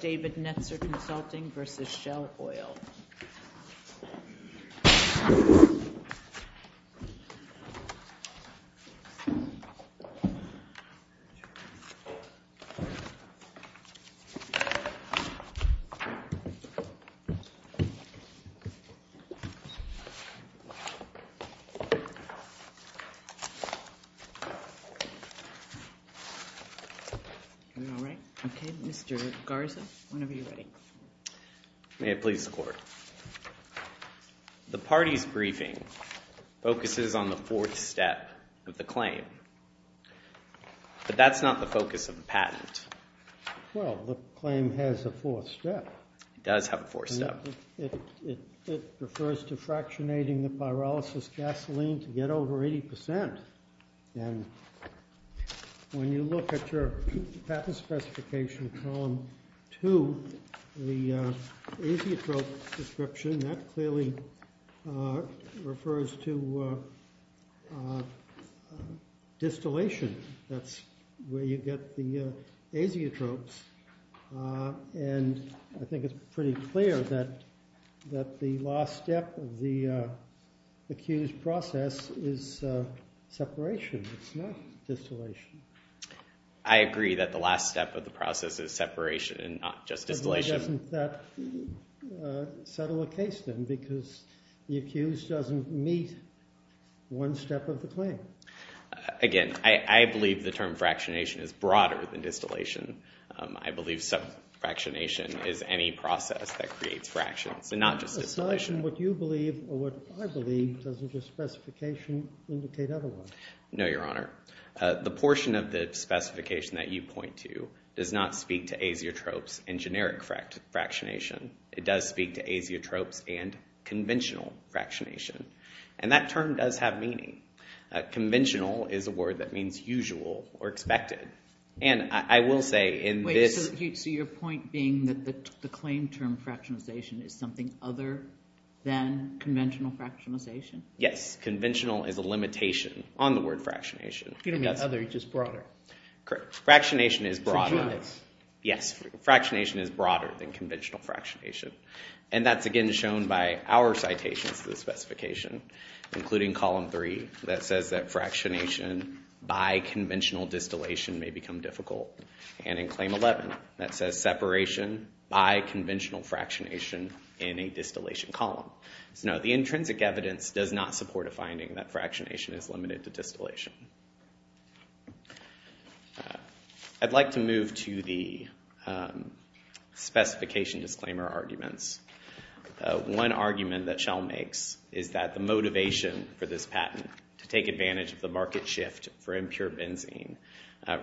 David Netzer Consulting v. Shell Oil Mr. Garza, whenever you're ready. May it please the Court. The party's briefing focuses on the fourth step of the claim. But that's not the focus of the patent. Well, the claim has a fourth step. It does have a fourth step. It refers to fractionating the pyrolysis gasoline to get over 80 percent. And when you look at your patent specification column 2, the azeotrope description, that clearly refers to distillation. That's where you get the azeotropes. And I think it's pretty clear that the last step of the accused process is separation. It's not distillation. I agree that the last step of the process is separation and not just distillation. Then why doesn't that settle the case then? Because the accused doesn't meet one step of the claim. Again, I believe the term fractionation is broader than distillation. I believe subfractionation is any process that creates fractions and not just distillation. Aside from what you believe or what I believe, doesn't your specification indicate otherwise? No, Your Honor. The portion of the specification that you point to does not speak to azeotropes and generic fractionation. It does speak to azeotropes and conventional fractionation. And that term does have meaning. Conventional is a word that means usual or expected. And I will say in this- Wait, so your point being that the claim term fractionization is something other than conventional fractionization? Yes. Conventional is a limitation on the word fractionation. You don't mean other. You just broader. Correct. Fractionation is broader. Yes. Fractionation is broader than conventional fractionation. And that's again shown by our citations to the specification, including column three, that says that fractionation by conventional distillation may become difficult. And in claim 11, that says separation by conventional fractionation in a distillation column. So no, the intrinsic evidence does not support a finding that fractionation is limited to distillation. I'd like to move to the specification disclaimer arguments. One argument that Shell makes is that the motivation for this patent to take advantage of the market shift for impure benzene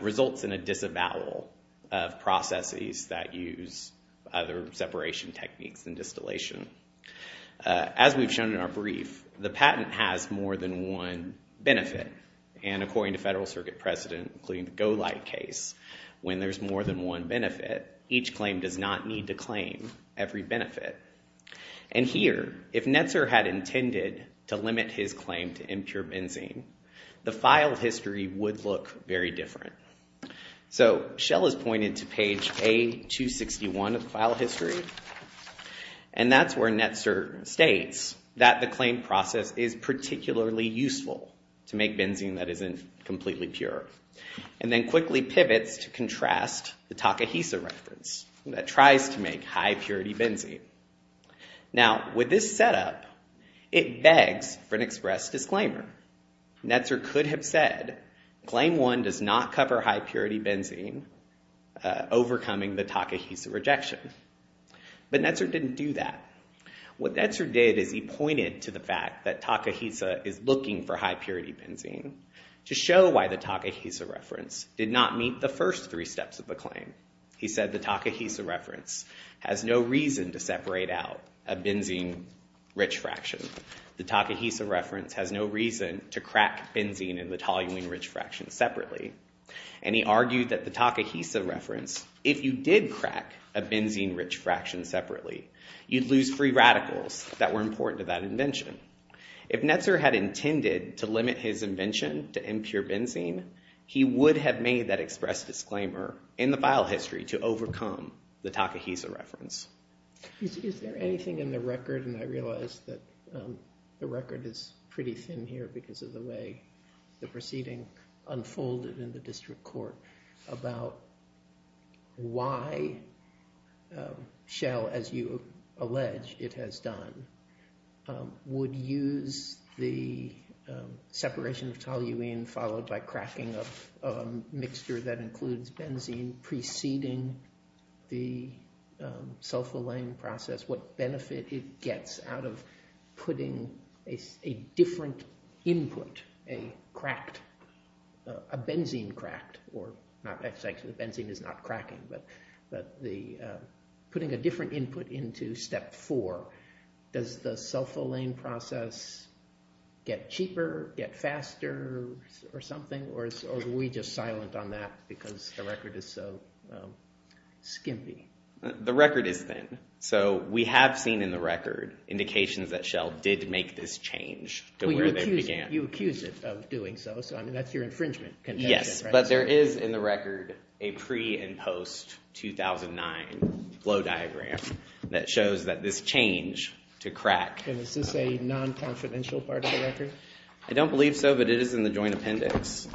results in a disavowal of processes that use other separation techniques than distillation. As we've shown in our brief, the patent has more than one benefit. And according to Federal Circuit precedent, including the Golight case, when there's more than one benefit, each claim does not need to claim every benefit. And here, if Netzer had intended to limit his claim to impure benzene, the file history would look very different. So Shell has pointed to page A261 of file history. And that's where Netzer states that the claim process is particularly useful to make benzene that isn't completely pure. And then quickly pivots to contrast the Takahisa reference that tries to make high-purity benzene. Now, with this setup, it begs for an express disclaimer. Netzer could have said, claim one does not cover high-purity benzene, overcoming the Takahisa rejection. But Netzer didn't do that. What Netzer did is he pointed to the fact that Takahisa is looking for high-purity benzene to show why the Takahisa reference did not meet the first three steps of the claim. He said the Takahisa reference has no reason to separate out a benzene-rich fraction. The Takahisa reference has no reason to crack benzene in the toluene-rich fraction separately. And he argued that the Takahisa reference, if you did crack a benzene-rich fraction separately, you'd lose free radicals that were important to that invention. If Netzer had intended to limit his invention to impure benzene, he would have made that express disclaimer in the file history to overcome the Takahisa reference. Is there anything in the record, and I realize that the record is pretty thin here because of the way the proceeding unfolded in the district court, about why Shell, as you allege it has done, would use the separation of toluene followed by cracking of a mixture that includes benzene preceding the sulfolane process? What benefit it gets out of putting a different input, a cracked, a benzene cracked, or actually the benzene is not cracking, but putting a different input into step four. Does the sulfolane process get cheaper, get faster, or something? Or are we just silent on that because the record is so skimpy? The record is thin. So we have seen in the record indications that Shell did make this change to where they began. You accuse it of doing so, so that's your infringement contention, right? Yes, but there is in the record a pre- and post-2009 flow diagram that shows that this change to crack… I don't believe so, but it is in the joint appendix.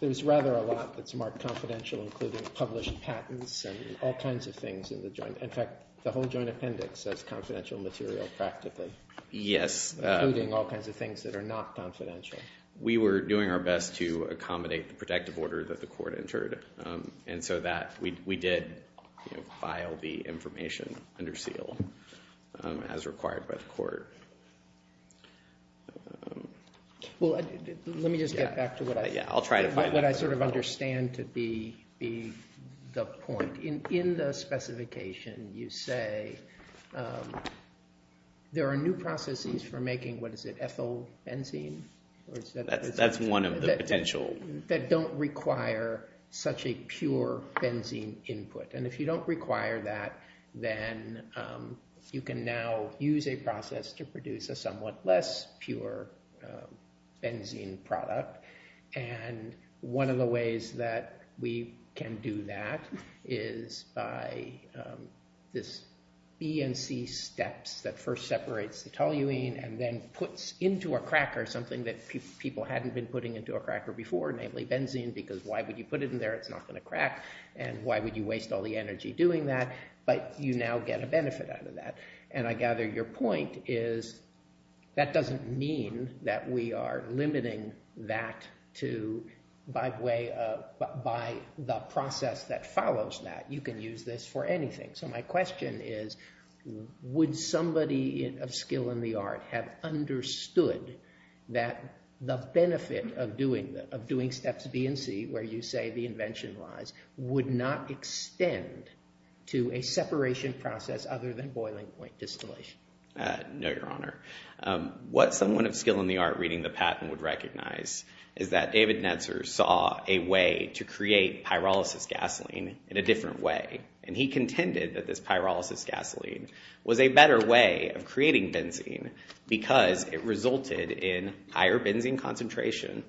There's rather a lot that's marked confidential, including published patents and all kinds of things in the joint. In fact, the whole joint appendix says confidential material practically. Yes. Including all kinds of things that are not confidential. We were doing our best to accommodate the protective order that the court entered, and so we did file the information under seal as required by the court. Well, let me just get back to what I sort of understand to be the point. In the specification, you say there are new processes for making, what is it, ethyl benzene? That's one of the potential… that don't require such a pure benzene input. And if you don't require that, then you can now use a process to produce a somewhat less pure benzene product. And one of the ways that we can do that is by this B and C steps that first separates the toluene and then puts into a cracker something that people hadn't been putting into a cracker before, namely benzene, because why would you put it in there? It's not going to crack. And why would you waste all the energy doing that? But you now get a benefit out of that. And I gather your point is that doesn't mean that we are limiting that to… by the process that follows that. You can use this for anything. So my question is, would somebody of skill in the art have understood that the benefit of doing steps B and C, where you say the invention lies, would not extend to a separation process other than boiling point distillation? No, Your Honor. What someone of skill in the art reading the patent would recognize is that David Netzer saw a way to create pyrolysis gasoline in a different way. And he contended that this pyrolysis gasoline was a better way of creating benzene because it resulted in higher benzene concentration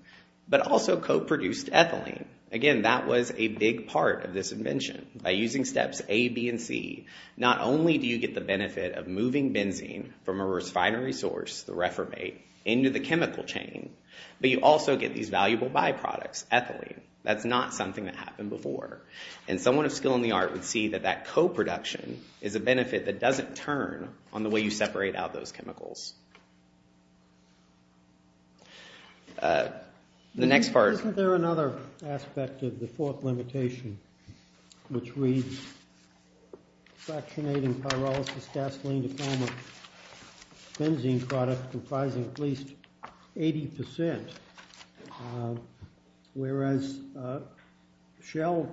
but also co-produced ethylene. Again, that was a big part of this invention. By using steps A, B, and C, not only do you get the benefit of moving benzene from a refinery source, the refurbate, into the chemical chain, but you also get these valuable byproducts, ethylene. That's not something that happened before. And someone of skill in the art would see that that co-production is a benefit that doesn't turn on the way you separate out those chemicals. The next part... Isn't there another aspect of the fourth limitation which reads fractionating pyrolysis gasoline to form a benzene product comprising at least 80% whereas Shell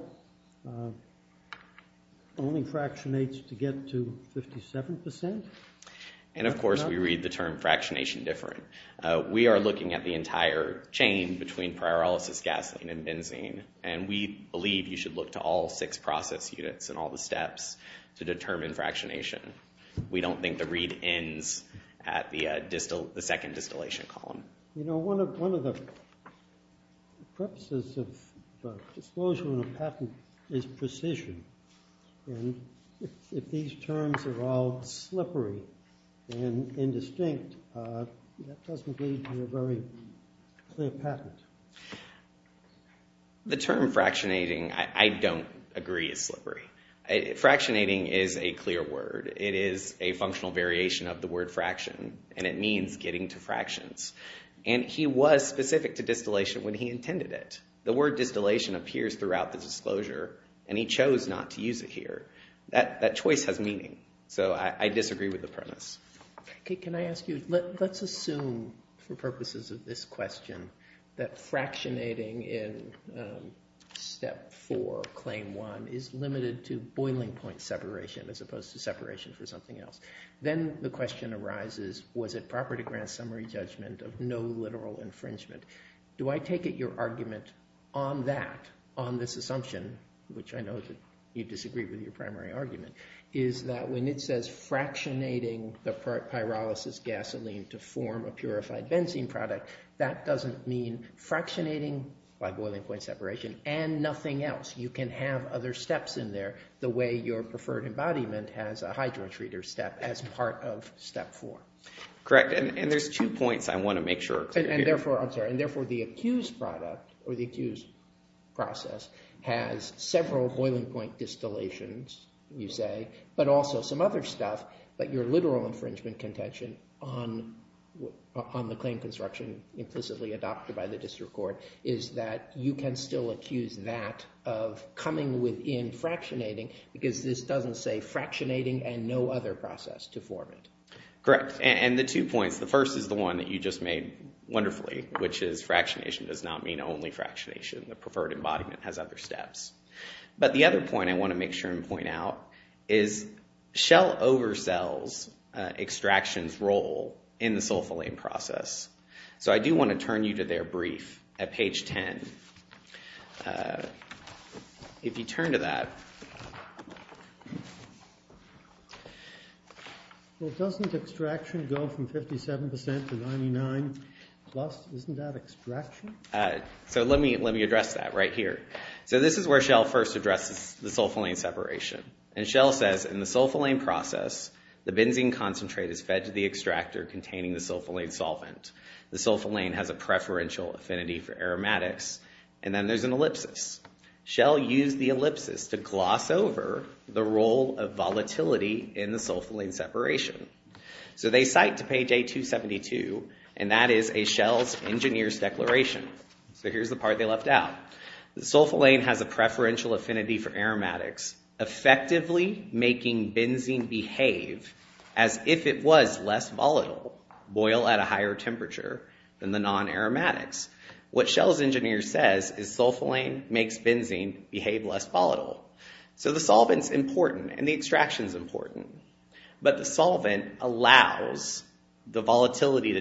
only fractionates to get to 57%? And of course we read the term fractionation different. We are looking at the entire chain between pyrolysis gasoline and benzene. And we believe you should look to all six process units and all the steps to determine fractionation. We don't think the read ends at the second distillation column. You know, one of the purposes of disclosure in a patent is precision. And if these terms are all slippery and indistinct, that doesn't lead to a very clear patent. The term fractionating I don't agree is slippery. Fractionating is a clear word. It is a functional variation of the word fraction, and it means getting to fractions. And he was specific to distillation when he intended it. The word distillation appears throughout the disclosure, and he chose not to use it here. That choice has meaning. So I disagree with the premise. Can I ask you, let's assume for purposes of this question that fractionating in step four, claim one, is limited to boiling point separation as opposed to separation for something else. Then the question arises, was it proper to grant summary judgment of no literal infringement? Do I take it your argument on that, on this assumption, which I know you disagree with your primary argument, is that when it says fractionating the pyrolysis gasoline to form a purified benzene product, that doesn't mean fractionating by boiling point separation and nothing else. You can have other steps in there the way your preferred embodiment has a hydrotreater step as part of step four. Correct. And there's two points I want to make sure are clear here. I'm sorry. And therefore, the accused product or the accused process has several boiling point distillations, you say, but also some other stuff. But your literal infringement contention on the claim construction implicitly adopted by the district court is that you can still accuse that of coming within fractionating because this doesn't say fractionating and no other process to form it. Correct. And the two points, the first is the one that you just made wonderfully, which is fractionation does not mean only fractionation. The preferred embodiment has other steps. But the other point I want to make sure and point out is shell oversells extraction's role in the sulfalane process. So I do want to turn you to their brief at page 10. If you turn to that. Well, doesn't extraction go from 57% to 99 plus? Isn't that extraction? So let me address that right here. So this is where Shell first addresses the sulfalane separation. And Shell says, in the sulfalane process, the benzene concentrate is fed to the extractor containing the sulfalane solvent. The sulfalane has a preferential affinity for aromatics. And then there's an ellipsis. Shell used the ellipsis to gloss over the role of volatility in the sulfalane separation. So they cite to page A272, and that is a Shell's engineer's declaration. So here's the part they left out. The sulfalane has a preferential affinity for aromatics, effectively making benzene behave as if it was less volatile, boil at a higher temperature than the non-aromatics. What Shell's engineer says is sulfalane makes benzene behave less volatile. So the solvent's important, and the extraction's important. But the solvent allows the volatility to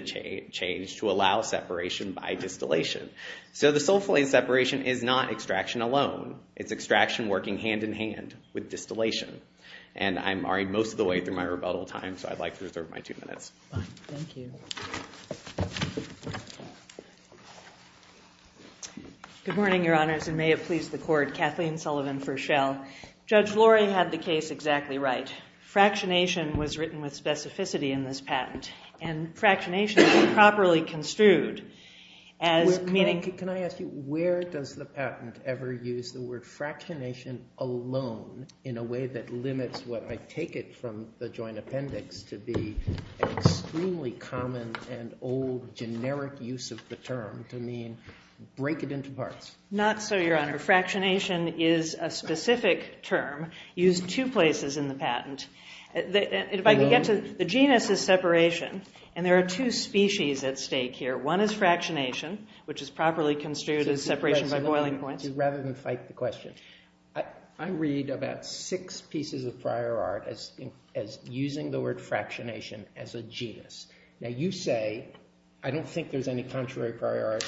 change to allow separation by distillation. So the sulfalane separation is not extraction alone. It's extraction working hand-in-hand with distillation. And I'm already most of the way through my rebuttal time, so I'd like to reserve my two minutes. Fine. Thank you. Good morning, Your Honors, and may it please the Court. Kathleen Sullivan for Shell. Judge Lori had the case exactly right. Fractionation was written with specificity in this patent, and fractionation is improperly construed as meaning... ...alone in a way that limits what I take it from the joint appendix to be an extremely common and old generic use of the term to mean break it into parts. Not so, Your Honor. Fractionation is a specific term used two places in the patent. If I could get to... The genus is separation, and there are two species at stake here. One is fractionation, which is properly construed as separation by boiling points. Rather than fight the question, I read about six pieces of prior art as using the word fractionation as a genus. Now, you say I don't think there's any contrary prior art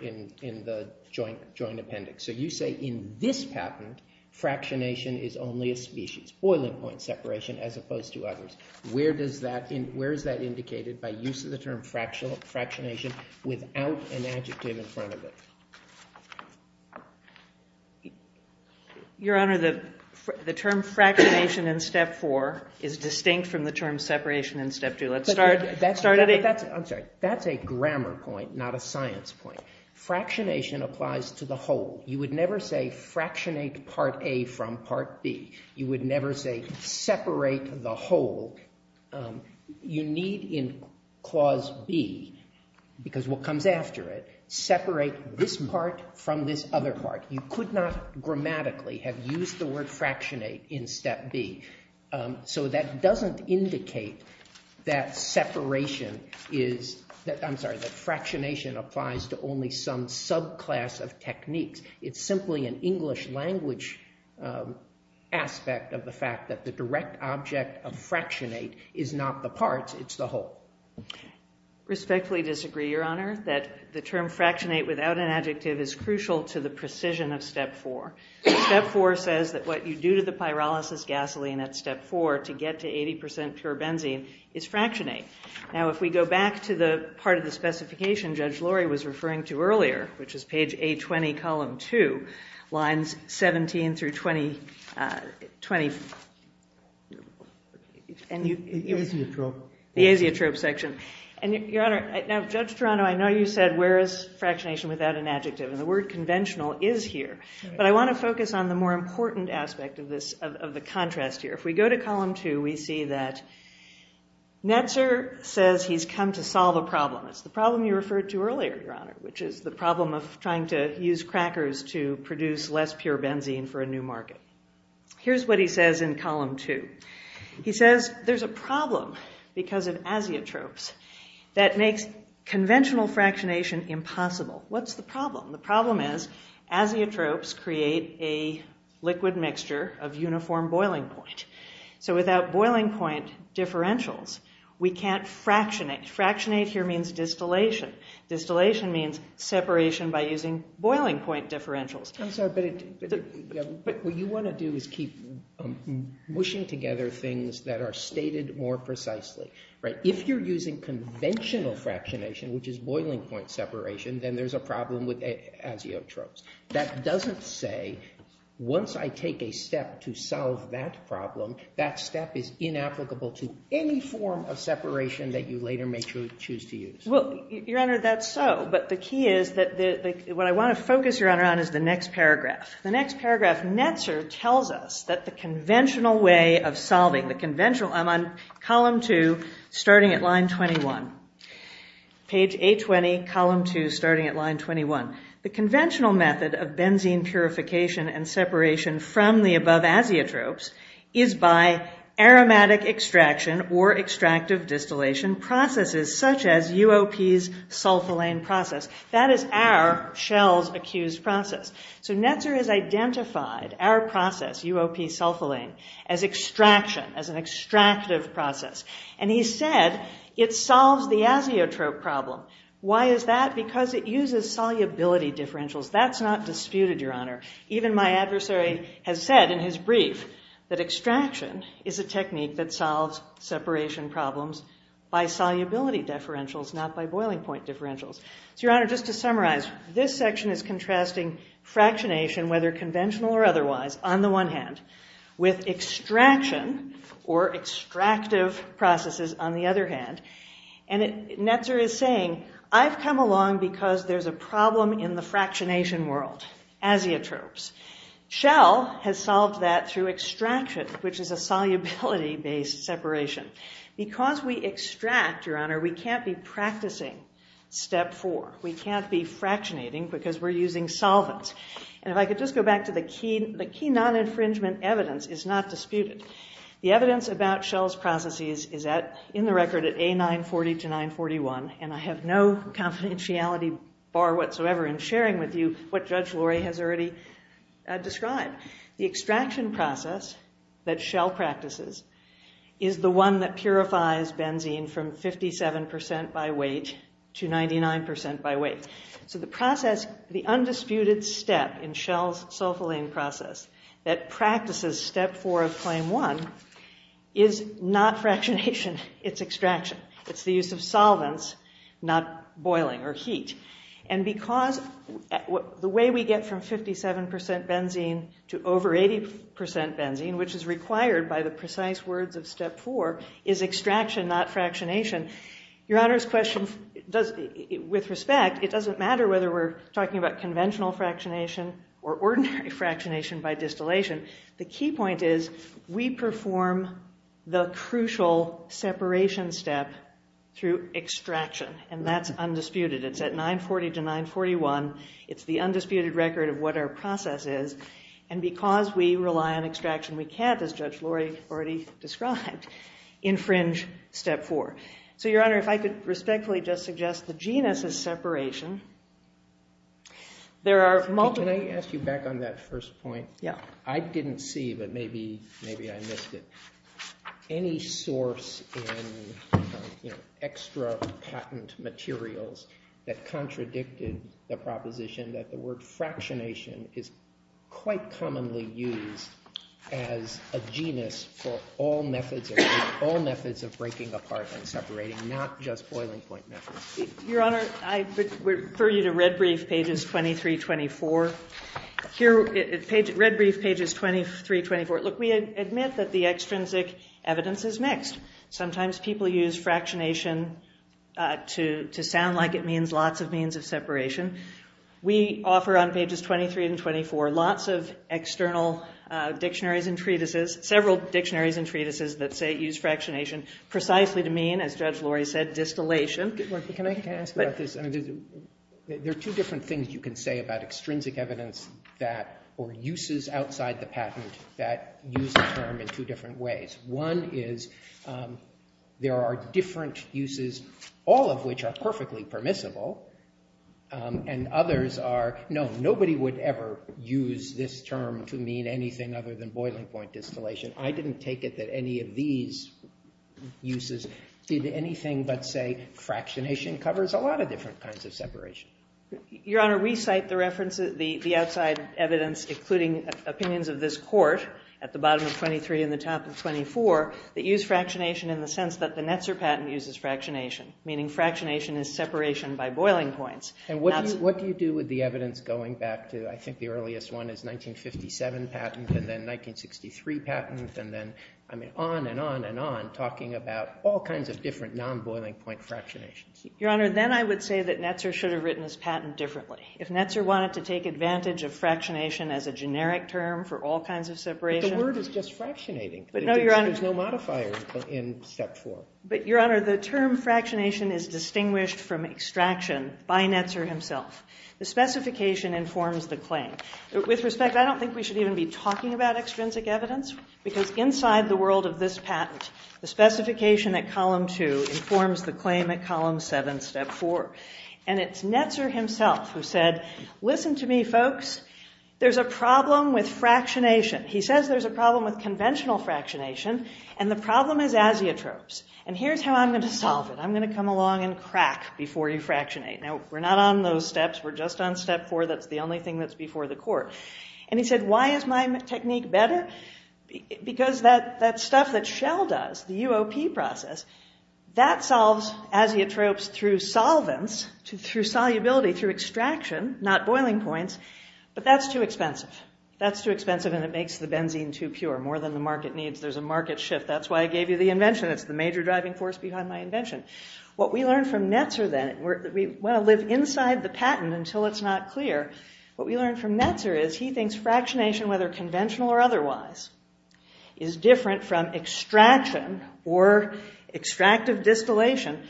in the joint appendix. So you say in this patent, fractionation is only a species, boiling point separation as opposed to others. Where is that indicated by use of the term fractionation without an adjective in front of it? Your Honor, the term fractionation in Step 4 is distinct from the term separation in Step 2. Let's start at a... I'm sorry. That's a grammar point, not a science point. Fractionation applies to the whole. You would never say fractionate Part A from Part B. You would never say separate the whole. You need in Clause B, because what comes after it, separate this part from this other part. You could not grammatically have used the word fractionate in Step B. So that doesn't indicate that separation is... I'm sorry, that fractionation applies to only some subclass of techniques. It's simply an English language aspect of the fact that the direct object of fractionate is not the parts, it's the whole. Respectfully disagree, Your Honor, that the term fractionate without an adjective is crucial to the precision of Step 4. Step 4 says that what you do to the pyrolysis gasoline at Step 4 to get to 80% pure benzene is fractionate. Now, if we go back to the part of the specification Judge Lori was referring to earlier, which is page A20, column 2, lines 17 through 20... The azeotrope. The azeotrope section. And, Your Honor, now, Judge Toronto, I know you said, where is fractionation without an adjective? And the word conventional is here. But I want to focus on the more important aspect of this, of the contrast here. If we go to column 2, we see that Netzer says It's the problem you referred to earlier, Your Honor, which is the problem of trying to use crackers to produce less pure benzene for a new market. Here's what he says in column 2. He says What's the problem? The problem is azeotropes create a liquid mixture of uniform boiling point. So without boiling point differentials, we can't fractionate. Fractionate here means distillation. Distillation means separation by using boiling point differentials. I'm sorry, but what you want to do is keep mushing together things that are stated more precisely. If you're using conventional fractionation, which is boiling point separation, then there's a problem with azeotropes. That doesn't say, once I take a step to solve that problem, that step is inapplicable to any form of separation that you later may choose to use. Well, Your Honor, that's so. But the key is that what I want to focus, Your Honor, on is the next paragraph. The next paragraph, Netzer tells us that the conventional way of solving the conventional I'm on column 2, starting at line 21. Page 820, column 2, starting at line 21. The conventional method of benzene purification and separation from the above azeotropes is by aromatic extraction or extractive distillation processes such as UOP's sulfalane process. That is our Shell's accused process. So Netzer has identified our process, UOP sulfalane, as extraction, as an extractive process. And he said it solves the azeotrope problem. Why is that? Because it uses solubility differentials. That's not disputed, Your Honor. Even my adversary has said in his brief that extraction is a technique that solves separation problems by solubility differentials, not by boiling point differentials. So, Your Honor, just to summarize, this section is contrasting fractionation, whether conventional or otherwise, on the one hand, with extraction or extractive processes on the other hand. And Netzer is saying, I've come along because there's a problem in the fractionation world, azeotropes. Shell has solved that through extraction, which is a solubility-based separation. Because we extract, Your Honor, we can't be practicing step four. We can't be fractionating because we're using solvents. And if I could just go back to the key, the key non-infringement evidence is not disputed. The evidence about Shell's processes is in the record at A940 to 941, and I have no confidentiality bar whatsoever in sharing with you what Judge Lori has already described. The extraction process that Shell practices is the one that purifies benzene from 57% by weight to 99% by weight. So the process, the undisputed step in Shell's sulfalane process that practices step four of claim one is not fractionation, it's extraction. It's the use of solvents, not boiling or heat. And because the way we get from 57% benzene to over 80% benzene, which is required by the precise words of step four, is extraction, not fractionation. Your Honor's question, with respect, it doesn't matter whether we're talking about conventional fractionation or ordinary fractionation by distillation. The key point is we perform the crucial separation step through extraction, and that's undisputed. It's at 940 to 941. It's the undisputed record of what our process is. And because we rely on extraction, we can't, as Judge Lori already described, infringe step four. So, Your Honor, if I could respectfully just suggest the genus's separation, there are multiple... Can I ask you back on that first point? Yeah. I didn't see, but maybe I missed it. Any source in extra patent materials that contradicted the proposition that the word fractionation is quite commonly used as a genus for all methods, all methods of breaking apart and separating, not just boiling point methods? Your Honor, I refer you to Red Brief, pages 23-24. Here, Red Brief, pages 23-24. Look, we admit that the extrinsic evidence is mixed. Sometimes people use fractionation to sound like it means lots of means of separation. We offer on pages 23 and 24 lots of external dictionaries and treatises, several dictionaries and treatises that use fractionation precisely to mean, as Judge Lori said, distillation. Can I ask about this? There are two different things you can say about extrinsic evidence or uses outside the patent that use the term in two different ways. One is there are different uses, all of which are perfectly permissible, and others are, no, nobody would ever use this term to mean anything other than boiling point distillation. I didn't take it that any of these uses did anything but say fractionation covers a lot of different kinds of separation. Your Honor, we cite the reference, the outside evidence, including opinions of this Court, at the bottom of 23 and the top of 24, that use fractionation in the sense that the Netzer patent uses fractionation, meaning fractionation is separation by boiling points. And what do you do with the evidence going back to, I think, the earliest one is 1957 patent and then 1963 patent and then on and on and on, talking about all kinds of different non-boiling point fractionations? Your Honor, then I would say that Netzer should have written his patent differently. If Netzer wanted to take advantage of fractionation as a generic term for all kinds of separation... But the word is just fractionating. There's no modifier in Step 4. But, Your Honor, the term fractionation is distinguished from extraction by Netzer himself. The specification informs the claim. With respect, I don't think we should even be talking about extrinsic evidence because inside the world of this patent, the specification at Column 2 informs the claim at Column 7, Step 4. And it's Netzer himself who said, listen to me, folks, there's a problem with fractionation. He says there's a problem with conventional fractionation, and the problem is azeotropes. And here's how I'm going to solve it. I'm going to come along and crack before you fractionate. Now, we're not on those steps. We're just on Step 4. That's the only thing that's before the court. And he said, why is my technique better? Because that stuff that Shell does, the UOP process, that solves azeotropes through solvents, through solubility, through extraction, not boiling points, but that's too expensive. That's too expensive and it makes the benzene too pure, more than the market needs. There's a market shift. That's why I gave you the invention. It's the major driving force behind my invention. What we learn from Netzer, then, we want to live inside the patent until it's not clear. What we learn from Netzer is he thinks fractionation, whether conventional or otherwise, is different from extraction or extractive distillation.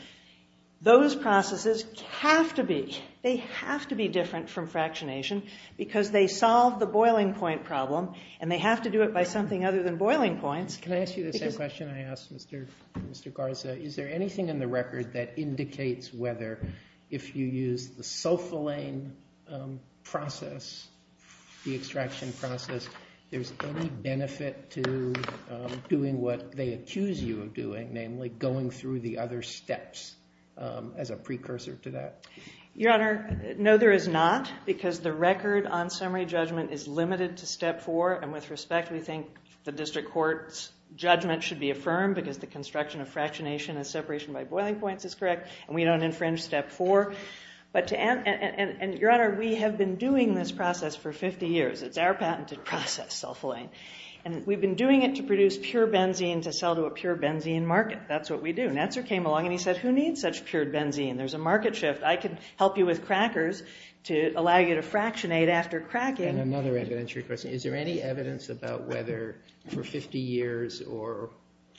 Those processes have to be. They have to be different from fractionation because they solve the boiling point problem and they have to do it by something other than boiling points. Can I ask you the same question I asked Mr. Garza? Is there anything in the record that indicates whether if you use the sulfalane process, the extraction process, there's any benefit to doing what they accuse you of doing, namely going through the other steps as a precursor to that? Your Honor, no there is not because the record on summary judgment is limited to step four. With respect, we think the district court's judgment should be affirmed because the construction of fractionation as separation by boiling points is correct and we don't infringe step four. Your Honor, we have been doing this process for 50 years. It's our patented process, sulfalane. We've been doing it to produce pure benzene to sell to a pure benzene market. That's what we do. Netzer came along and he said, who needs such pure benzene? There's a market shift. I can help you with crackers to allow you to fractionate after cracking. And another evidentiary question. Is there any evidence about whether for 50 years or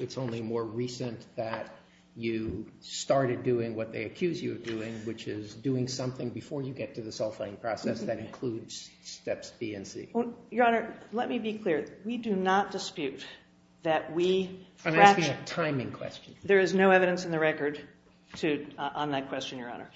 it's only more recent that you started doing what they accuse you of doing, which is doing something before you get to the sulfalane process that includes steps B and C? Your Honor, let me be clear. We do not dispute that we fractionate. I'm asking a timing question. There is no evidence in the record on that question, Your Honor.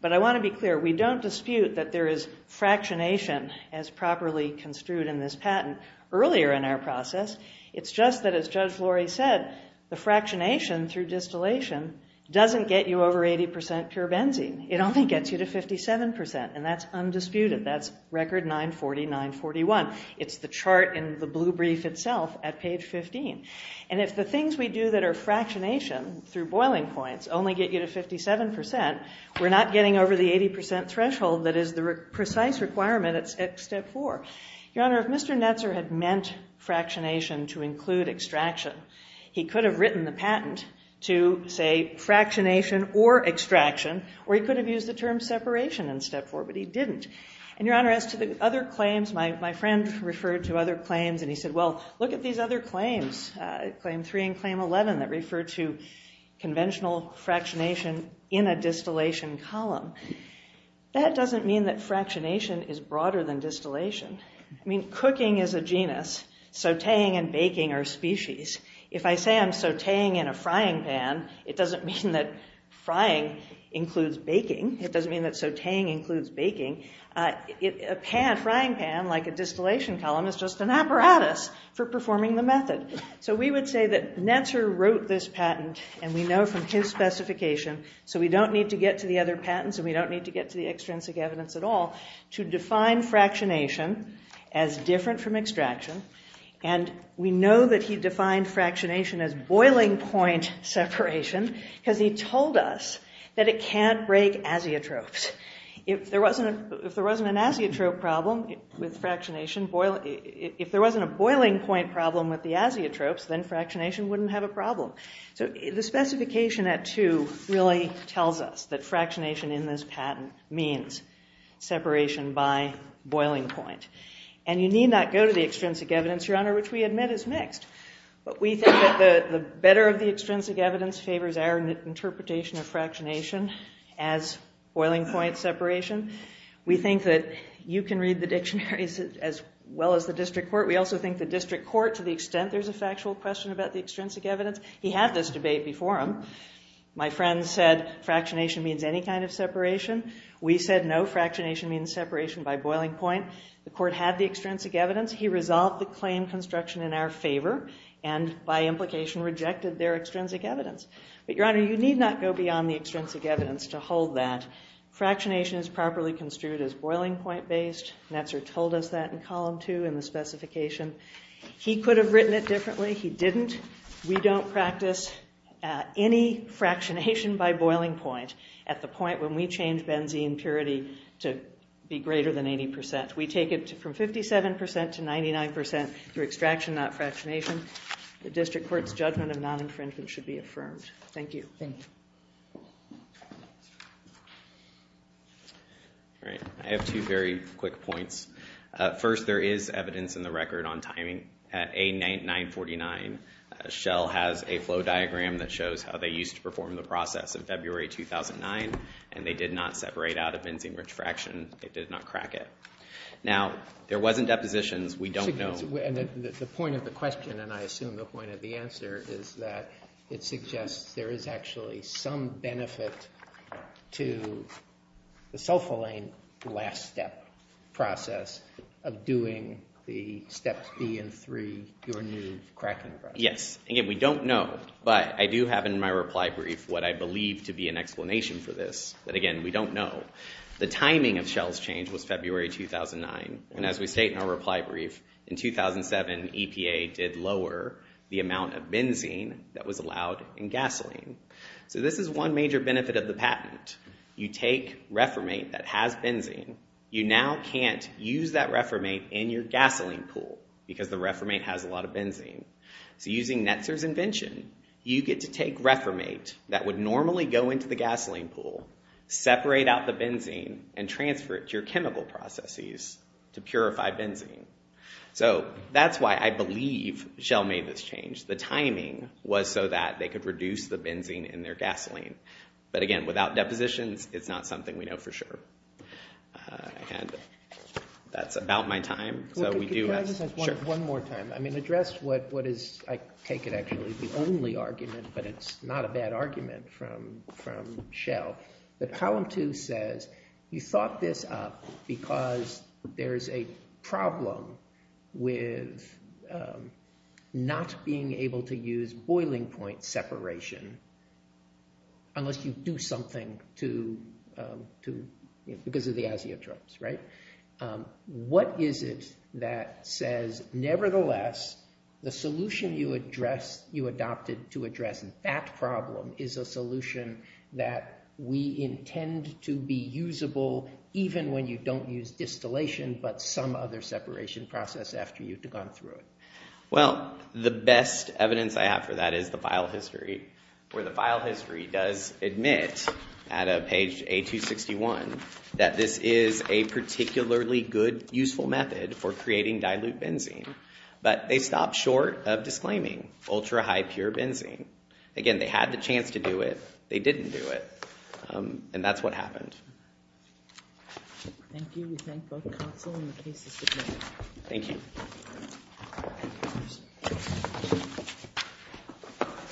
But I want to be clear. We don't dispute that there is fractionation as properly construed in this patent earlier in our process. It's just that, as Judge Flory said, the fractionation through distillation doesn't get you over 80% pure benzene. It only gets you to 57%, and that's undisputed. That's record 940, 941. It's the chart in the blue brief itself at page 15. And if the things we do that are fractionation through boiling points only get you to 57%, we're not getting over the 80% threshold that is the precise requirement at step 4. Your Honor, if Mr. Netzer had meant fractionation to include extraction, he could have written the patent to say fractionation or extraction, or he could have used the term separation in step 4, but he didn't. And, Your Honor, as to the other claims, my friend referred to other claims, and he said, well, look at these other claims, claim 3 and claim 11, that refer to conventional fractionation in a distillation column. That doesn't mean that fractionation is broader than distillation. I mean, cooking is a genus. Sautéing and baking are species. If I say I'm sautéing in a frying pan, it doesn't mean that frying includes baking. It doesn't mean that sautéing includes baking. A frying pan, like a distillation column, So we would say that Netzer wrote this patent, and we know from his specification, so we don't need to get to the other patents, and we don't need to get to the extrinsic evidence at all, to define fractionation as different from extraction. And we know that he defined fractionation as boiling point separation, because he told us that it can't break azeotropes. If there wasn't an azeotrope problem with fractionation, if there wasn't a boiling point problem with the azeotropes, then fractionation wouldn't have a problem. So the specification at two really tells us that fractionation in this patent means separation by boiling point. And you need not go to the extrinsic evidence, Your Honor, which we admit is mixed. But we think that the better of the extrinsic evidence favors our interpretation of fractionation as boiling point separation. We think that you can read the dictionaries as well as the district court. We also think the district court, to the extent there's a factual question about the extrinsic evidence, he had this debate before him. My friend said, fractionation means any kind of separation. We said no, fractionation means separation by boiling point. The court had the extrinsic evidence. He resolved the claim construction in our favor and, by implication, rejected their extrinsic evidence. But, Your Honor, you need not go beyond the extrinsic evidence to hold that. Fractionation is properly construed as boiling point based. Netzer told us that in column two in the specification. He could have written it differently. He didn't. We don't practice any fractionation by boiling point at the point when we change benzene purity to be greater than 80%. We take it from 57% to 99% through extraction, not fractionation. The district court's judgment of non-infringement should be affirmed. Thank you. All right. I have two very quick points. First, there is evidence in the record on timing. At A949, Schell has a flow diagram that shows how they used to perform the process in February 2009, and they did not separate out a benzene-rich fraction. They did not crack it. Now, there wasn't depositions. We don't know. The point of the question, and I assume the point of the answer, is that it suggests there is actually some benefit to the sulfalane last step process of doing the steps B and 3, your new cracking process. Yes. Again, we don't know, but I do have in my reply brief what I believe to be an explanation for this. But again, we don't know. The timing of Schell's change was February 2009, and as we state in our reply brief, in 2007, EPA did lower the amount of benzene that was allowed in gasoline. So this is one major benefit of the patent. You take reformate that has benzene. You now can't use that reformate in your gasoline pool because the reformate has a lot of benzene. So using Netzer's invention, you get to take reformate that would normally go into the gasoline pool, separate out the benzene, and transfer it to your chemical processes to purify benzene. So that's why I believe Schell made this change. The timing was so that they could reduce the benzene in their gasoline. But again, without depositions, it's not something we know for sure. And that's about my time. So we do have... Sure. One more time. I mean, address what is... I take it actually the only argument, but it's not a bad argument from Schell, that Column 2 says you thought this up because there's a problem with not being able to use boiling point separation unless you do something because of the azeotropes, right? What is it that says, nevertheless, the solution you adopted to address that problem is a solution that we intend to be usable even when you don't use distillation but some other separation process after you've gone through it? Well, the best evidence I have for that is the file history, where the file history does admit at page A261 that this is a particularly good, useful method for creating dilute benzene. But they stopped short of disclaiming ultra-high pure benzene. Again, they had the chance to do it. They didn't do it. And that's what happened. Thank you. We thank both the Council and the cases submitted. Thank you.